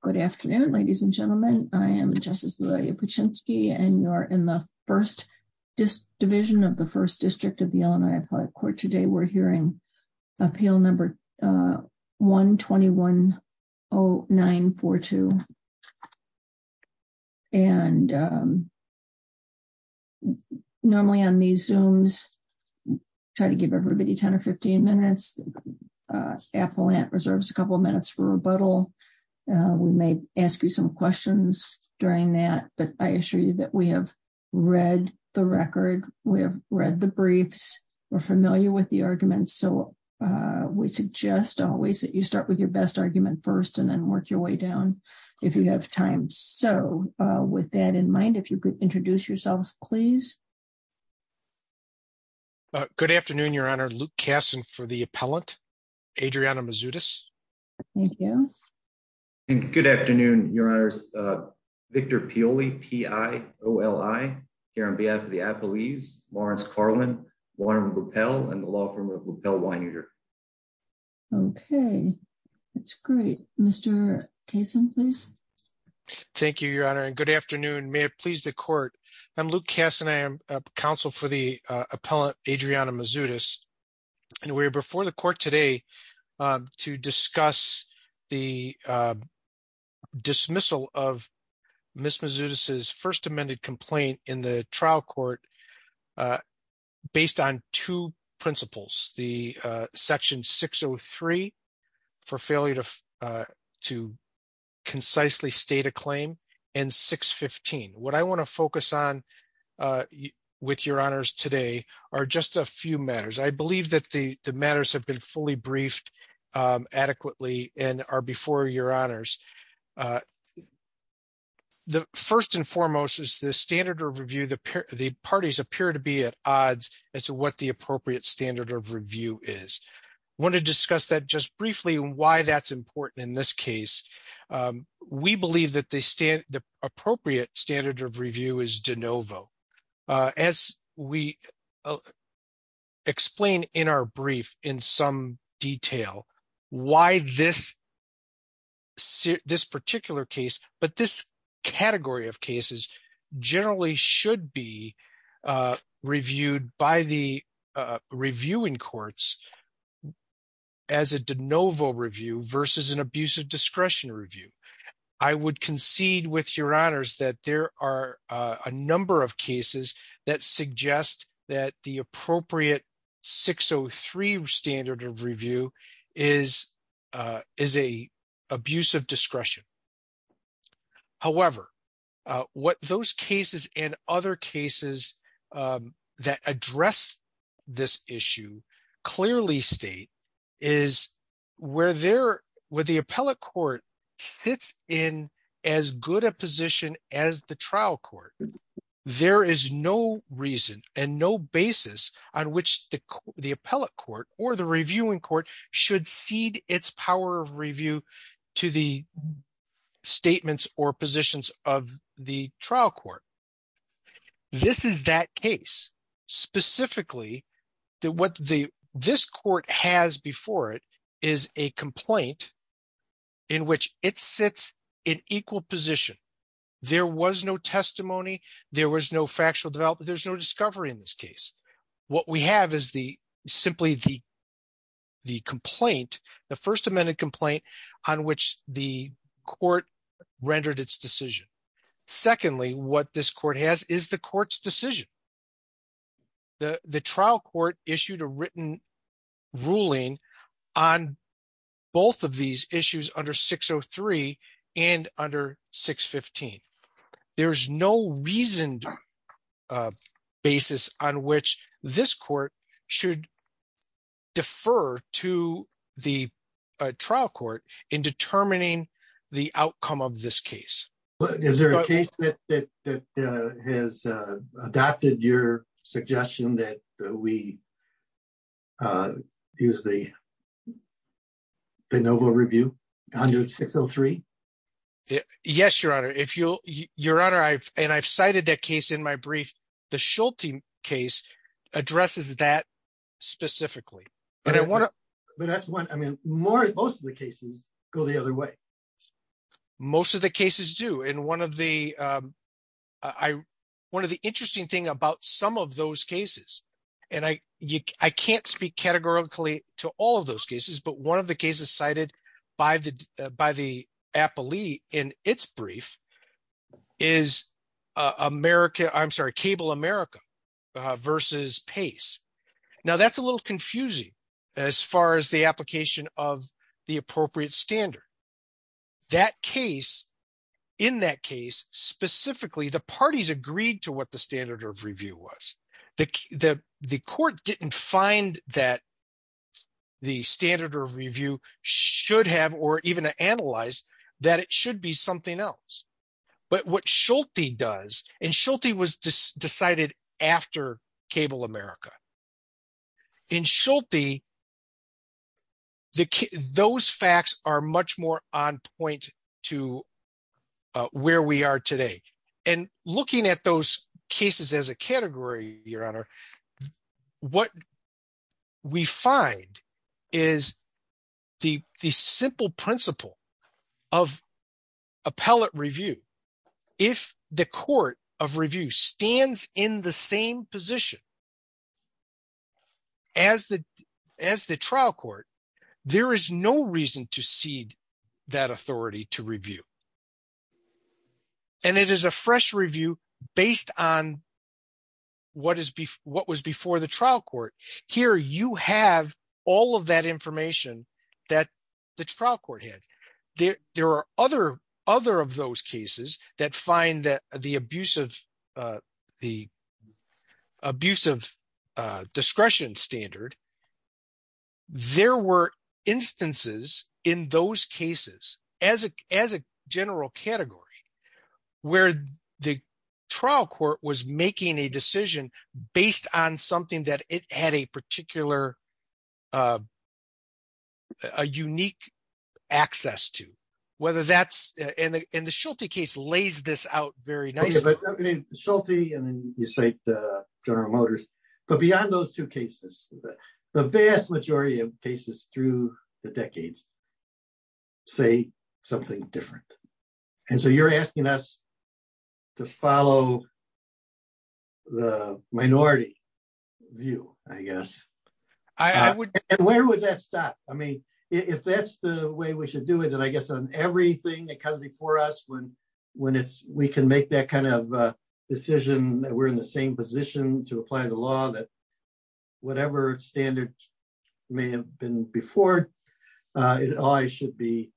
Good afternoon, ladies and gentlemen. I am Justice Lillia Puchinsky and you're in the first division of the First District of the Illinois Appellate Court. Today we're hearing Appeal Number 1210942. And normally on these Zooms, try to give everybody 10 or 15 minutes. The appellate reserves a couple of minutes for rebuttal. We may ask you some questions during that. But I assure you that we have read the record. We have read the briefs. We're familiar with the arguments. So we suggest always that you start with your best argument first and then work your way down if you have time. So with that in mind, if you could introduce yourselves, please. Luke Kasson Good afternoon, Your Honor. Luke Kasson for the appellant, Adriana Mazzutis. Adriana Mazzutis Thank you. Victor Pioli Good afternoon, Your Honors. Victor Pioli, P-I-O-L-I, here on behalf of the appellees, Lawrence Karlin, Warren Ruppell, and the law firm of Ruppell Wineter. Adriana Mazzutis Okay, that's great. Mr. Kasson, please. Luke Kasson Thank you, Your Honor. And good afternoon. May it please the court. I'm Luke Kasson. I am counsel for the appellant, Adriana Mazzutis. And we're before the court today to discuss the dismissal of Ms. Mazzutis' first amended complaint in the trial court based on two principles, the section 603, for failure to concisely state a claim, and 615. What I want to focus on with Your Honors today are just a few matters. I believe that the matters have been fully briefed adequately and are before Your Honors. The first and foremost is the standard of review. The parties appear to be at odds as to what the appropriate standard of review is. I want to discuss that just briefly and why that's important in this case. We believe that the appropriate standard of review is de novo. As we explain in our brief in some detail, why this particular case, but this category of cases, generally should be I would concede with Your Honors that there are a number of cases that suggest that the appropriate 603 standard of review is an abuse of discretion. However, what those cases and other cases that address this issue clearly state is where the appellate court sits in as good a position as the trial court. There is no reason and no basis on which the appellate court or the reviewing court should cede its power of review to the statements or positions of the trial court. This is that case. Specifically, what this court has before it is a complaint in which it sits in equal position. There was no testimony. There was no factual development. There's no discovery in this case. What we have is simply the first amended complaint on which the court rendered its decision. Secondly, what this court has is the court's decision. The trial court issued a written ruling on both of these issues under 603 and under 615. There's no reasoned basis on which this court should defer to the trial court in determining the outcome of this case. Is there a case that has adopted your suggestion that we use the Benovo Review under 603? Yes, Your Honor. I've cited that case in my brief. The Schulte case addresses that specifically. Most of the cases go the other way. Most of the cases do. One of the interesting things about some of those cases, and I can't speak categorically to all of those cases, but one of the cases cited by the appellee in its brief is Cable America versus Pace. Now, that's a little confusing as far as the application of the appropriate standard. In that case, specifically, the parties agreed to what the standard of review was. The court didn't find that the standard of review should have or even analyze that it should be something else. But what Schulte does, and Schulte was decided after Cable America, in Schulte, those facts are much more on point to where we are today. Looking at those cases as a category, Your Honor, what we find is the simple principle of appellate review. If the court of review stands in the same position as the trial court, there is no reason to cede that authority to review. It is a fresh review based on what was before the trial court. Here, you have all of that there. There are other of those cases that find that the abuse of discretion standard, there were instances in those cases as a general category where the trial court was making a decision. The Schulte case lays this out very nicely. But beyond those two cases, the vast majority of cases through the decades say something different. You're asking us to follow the minority view, I guess. I would. And where would that stop? I mean, if that's the way we should do it, then I guess on everything that comes before us when we can make that kind of decision that we're in the same position to apply the law that whatever standard may have been before, it always should be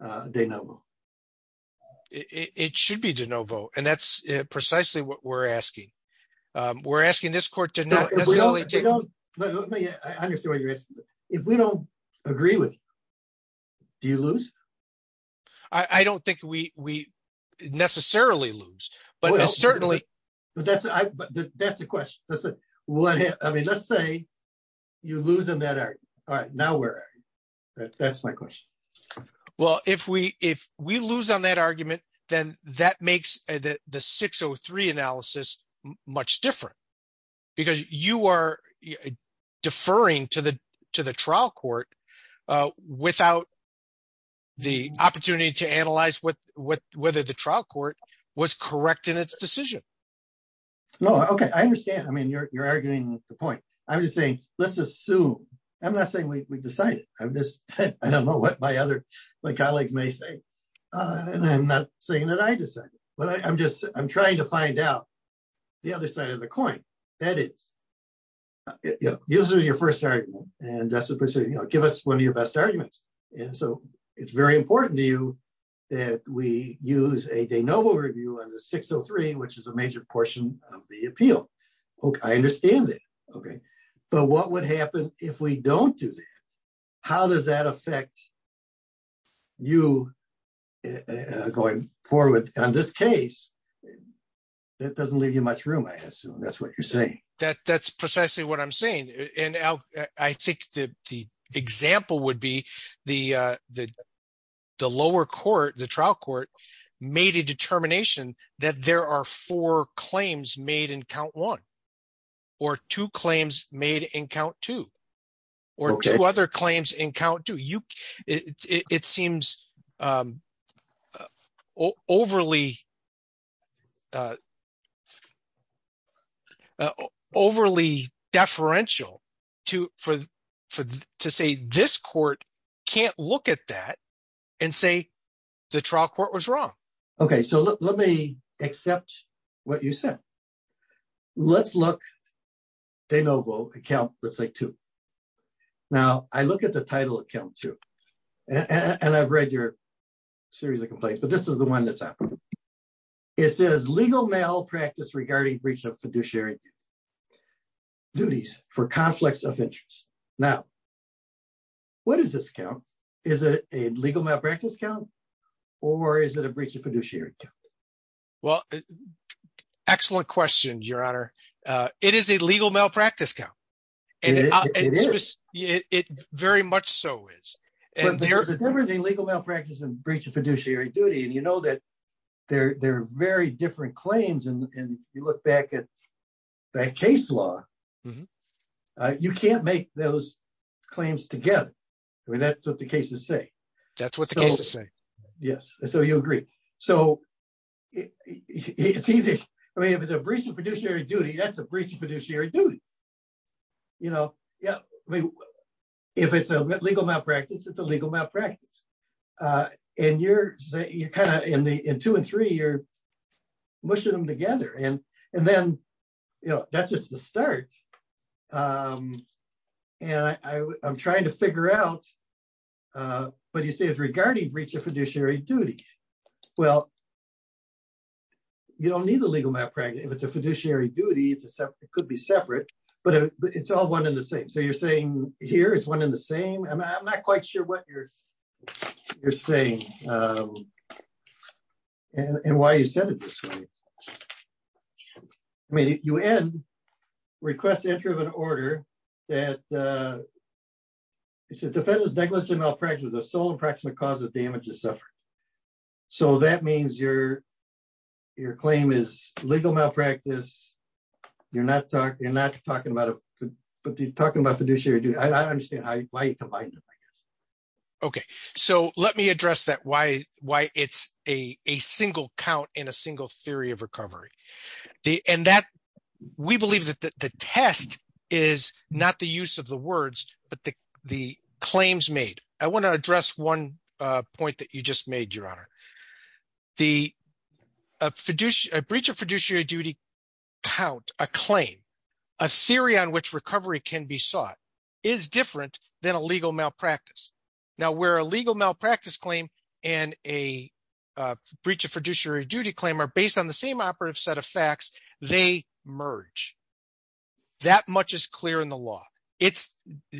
de novo. It should be de novo. And that's precisely what we're asking. We're asking this court to not necessarily take it. I understand what you're asking. If we don't agree with you, do you lose? I don't think we necessarily lose, but certainly... That's a question. Let's say you lose on that argument. All right, now where are you? That's my question. Well, if we lose on that argument, then that makes the 603 analysis much different. Because you are deferring to the trial court without the opportunity to analyze whether the trial court was correct in its decision. Okay, I understand. I mean, you're arguing the point. I'm just saying, let's assume. I'm not saying we decided. I don't know what my colleagues may say. And I'm not saying that I decided. But I'm trying to find out the other side of the coin. That is, use it in your first argument. And that's the procedure. Give us one of your best arguments. And so it's very important to you that we use a de novo review on the 603, which is a major portion of the appeal. Okay, I understand it. Okay. But what would happen if we don't do that? How does that affect you going forward on this case? That doesn't leave you much room, I assume. That's what you're saying. That's precisely what I'm saying. And I think the example would be the lower court, the trial court, made a determination that there are four claims made in count one, or two claims made in count two, or two other claims in count two. It seems overly deferential to say this court can't look at that and say, the trial court was wrong. Okay, so let me accept what you said. Let's look de novo at count, let's say two. Now, I look at the title of count two. And I've read your series of complaints, but this is the one that's happening. It says legal malpractice regarding breach of fiduciary duties for conflicts of interest. Now, what does this count? Is it a legal malpractice count? Or is it a breach of fiduciary? Well, excellent question, Your Honor. It is a legal malpractice count. And it very much so is everything legal malpractice and breach of fiduciary duty. And you know that they're they're very different claims. And if you look back at that case law, you can't make those claims together. I mean, that's what the cases say. That's what the cases say. Yes, so you agree. So I mean, if it's a breach of fiduciary duty, that's a breach of fiduciary duty. You know, yeah. I mean, if it's a legal malpractice, it's a legal malpractice. And you're you're kind of in the in two and three, you're mushing them together. And, and then, you know, that's just the start. And I'm trying to figure out what you say is regarding breach of fiduciary duties. Well, you don't need a legal malpractice. If it's a fiduciary duty, it's a separate, it could be separate. But it's all one in the same. So you're saying here is one in the same. And I'm not quite sure what you're saying. And why you said it this way. I mean, you end request entry of an order that is a defendant's negligence or malpractice is the sole and proximate cause of damage or suffering. So that means your, your claim is legal malpractice. You're not talking, you're not talking about, but you're talking about fiduciary duty. I don't understand why Okay, so let me address that why why it's a single count in a single theory of recovery. The and that we believe that the test is not the use of the words, but the the claims made, I want to address one point that you just made your honor. The fiduciary breach of fiduciary duty count a claim, a theory on which recovery can be sought is different than a legal malpractice. Now where a legal malpractice claim and a breach of fiduciary duty claim are based on the same operative set of facts, they merge. That much is clear in the law. It's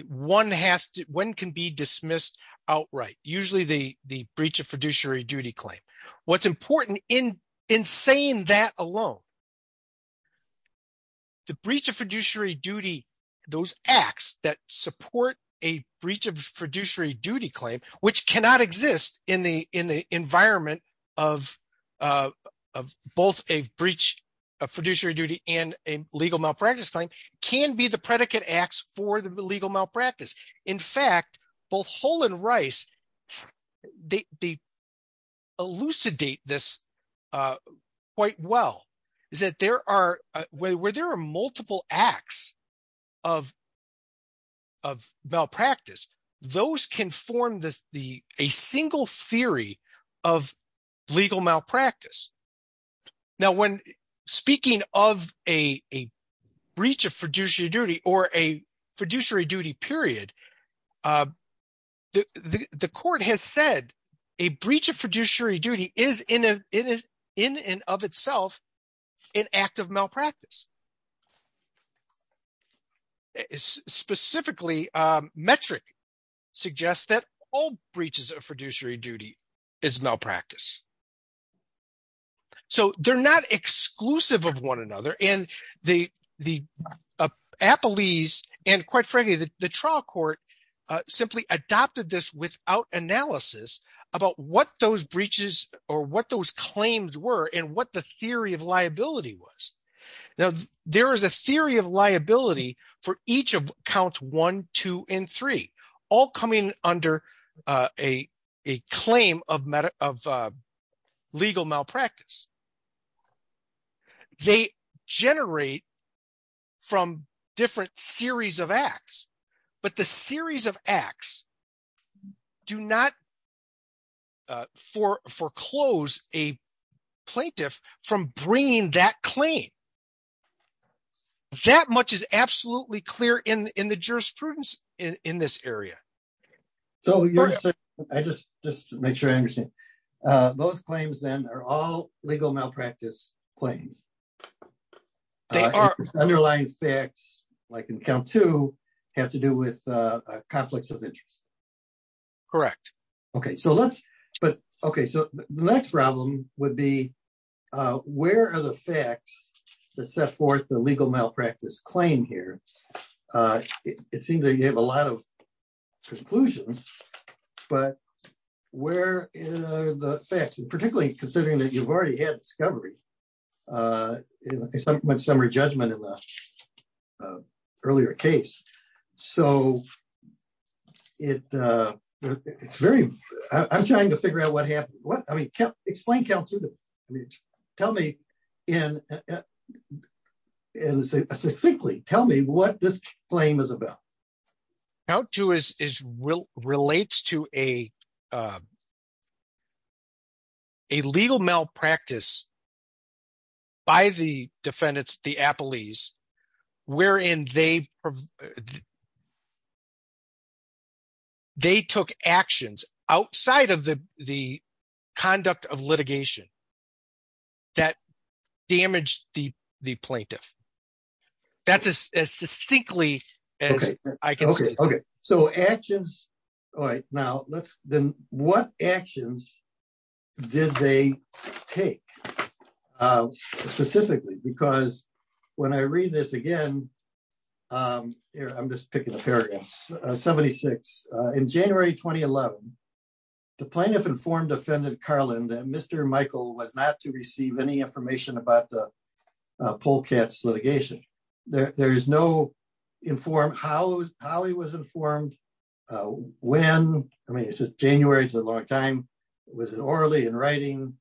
one has to when can be dismissed outright, usually the the breach of fiduciary duty claim. What's important in saying that alone, the breach of fiduciary duty, those acts that support a breach of fiduciary duty claim, which cannot exist in the in the environment of of both a breach of fiduciary duty and a legal malpractice claim can be the predicate acts for the legal malpractice. In fact, both whole and rice, they elucidate this quite well, is that there are where there are multiple acts of of malpractice, those can form the the a single theory of legal malpractice. Now, when speaking of a breach of fiduciary duty or a fiduciary duty period, the court has said a breach of fiduciary duty is in a in a in and of itself, an act of malpractice. Specifically, metric suggests that all breaches of fiduciary duty is malpractice. So they're not exclusive of one another. And the the appellees and quite frankly, the trial court simply adopted this without analysis about what those breaches or what those claims were and what the theory of liability was. Now, there is a theory of liability for each of count one, two, and three, all coming under a claim of meta of legal malpractice. They generate from different series of acts, but the series of acts do not for foreclose a plaintiff from bringing that claim. So that much is absolutely clear in the jurisprudence in this area. So I just just make sure I understand. Those claims, then are all legal malpractice claims. They are underlying facts, like in count to have to do with conflicts of interest. Correct. Okay, so let's but okay, so the next problem would be, where are the facts that set forth the legal malpractice claim here? It seems that you have a lot of conclusions. But where are the facts and particularly considering that you've already had discovery in my summer judgment in the earlier case? So it it's very, I'm trying to figure out what what I mean, explain count to tell me in simply tell me what this claim is about. How to is is will relates to a a legal malpractice by the defendants, the appellees, wherein they they took actions outside of the the conduct of litigation that damaged the the plaintiff. That's as distinctly as I can. Okay, so actions. All right. Now, let's then what actions did they take? Specifically, because when I read this again, here, I'm just picking a paragraph 76. In January 2011, the plaintiff informed offended Carlin that Mr. Michael was not to receive any information about the poll cats litigation. There is no informed how how he was informed. When I mean, it's January, it's a long time. Was it orally in writing?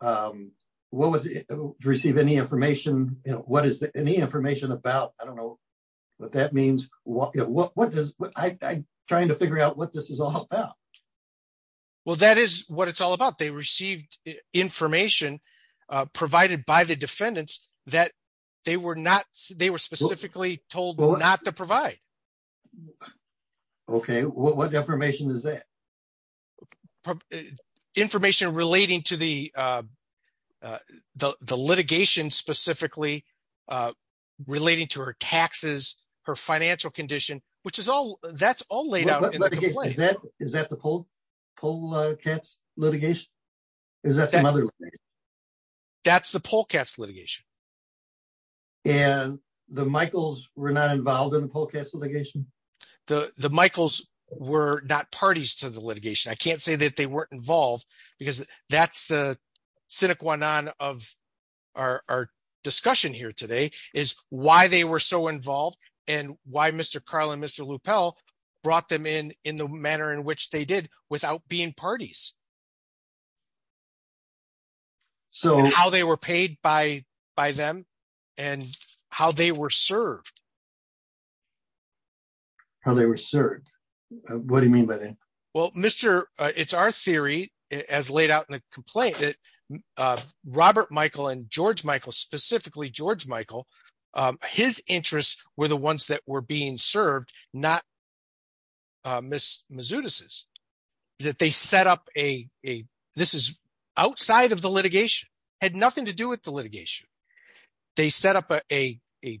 What was it receive any information? You know, what is any information about? I don't know what that means? What is what I trying to figure out what this is all about? Well, that is what it's all about. They received information provided by the defendants that they were not they were specifically told not to provide. Okay, what information is that? information relating to the the litigation specifically, relating to her taxes, her financial condition, which is all that's all laid out. Is that the poll poll cats litigation? Is that that's the poll cats litigation? And the Michaels were not involved in the poll cats litigation. The the Michaels were not parties to the litigation. I can't say that they weren't involved. Because that's the cynic one on of our discussion here today is why they were so involved. And why Mr. Carl and Mr. lupel brought them in in the manner in which they did without being parties. So how they were paid by, by them, and how they were served. How they were served? What do you mean by that? Well, Mr. It's our theory, as laid out in a complaint that Robert Michael and George Michael, specifically George Michael, his interests were the ones that were being served, not Miss mizutis is that they set up a, this is outside of the litigation had nothing to do with the litigation. They set up a a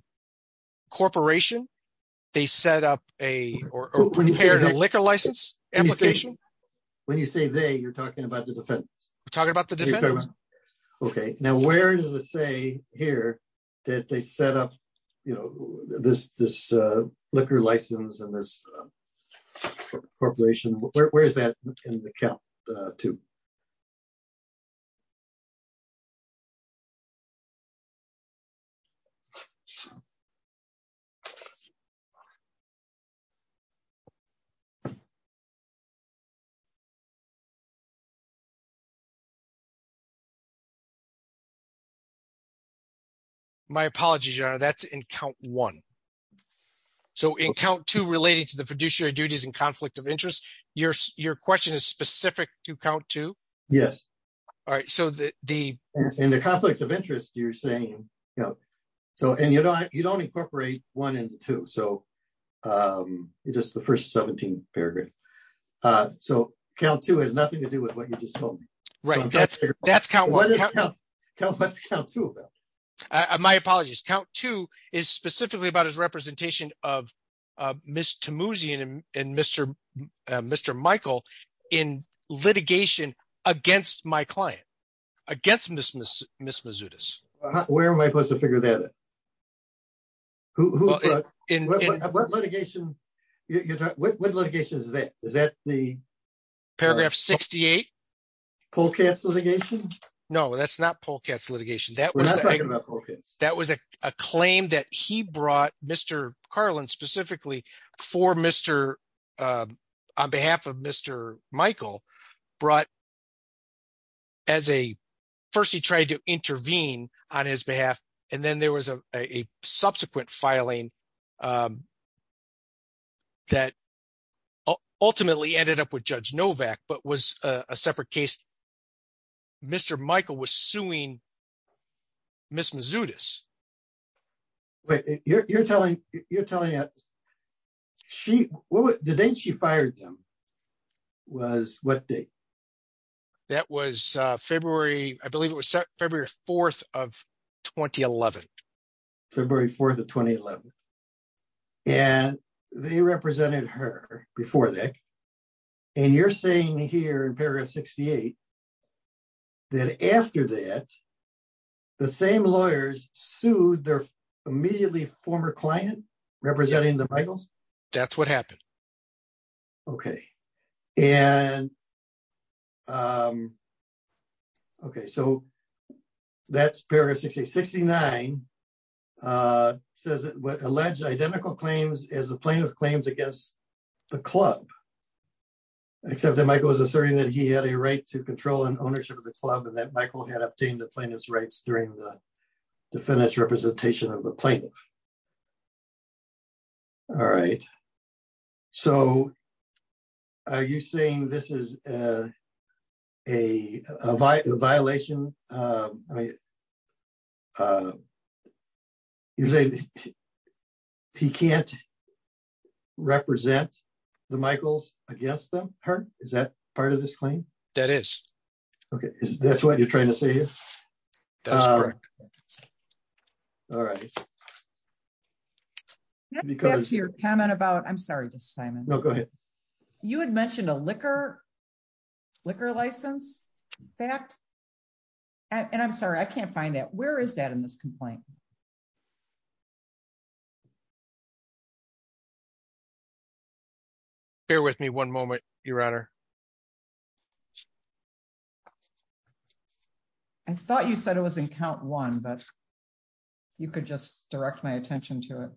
corporation, they set up a liquor license application. When you say they you're talking about the defense talking about the defense. Okay, now, where does it say here that they set up, you know, this, this liquor license and this corporation, where is that in the cap? My apologies, your honor, that's in count one. So in count two related to the fiduciary duties and conflict of interest, your, your question is specific to count two. Yes. All right. So the, the conflicts of interest, you're saying, you know, so and you don't, you don't incorporate one into two. So just the first 17 paragraphs. So count two has nothing to do with what you just read. That's, that's count one. My apologies, count two is specifically about his representation of Mr. Moosey and Mr. Mr. Michael, in litigation against my client, against Miss Miss Miss mizutis. Where am I supposed to figure that out? Who in litigation? What litigation is that? Is that the paragraph 68? pull cats litigation? No, that's not pull cats litigation. That was that was a claim that he brought Mr. Carlin specifically for Mr. On behalf of Mr. Michael brought as a first he tried to intervene on his behalf. And then there was a subsequent filing that ultimately ended up with Judge Novak, but was a separate case. Mr. Michael was suing Miss mizutis. Wait, you're telling you're telling us? She what the date she fired them was what date? That was February, I believe it was February 4 of 2011. February 4 of 2011. And they represented her before that. And you're saying here in paragraph 68 that after that, the same lawyers sued their immediately former client representing the nine says alleged identical claims as the plaintiff claims against the club. Except that Michael was asserting that he had a right to control and ownership of the club and that Michael had obtained the plaintiff's rights during the defense representation of the plaintiff. All right. So are you saying this is a violation? He can't represent the Michaels against them hurt? Is that part of this claim? That is. Okay, that's what you're trying to say here. All right. Because your comment about I'm sorry, just Simon, no, go ahead. You had mentioned a liquor, liquor license, fact. And I'm sorry, I can't find that. Where is that in this complaint? Bear with me one moment, Your Honor. I thought you said it was in count one, but you could just direct my attention to it.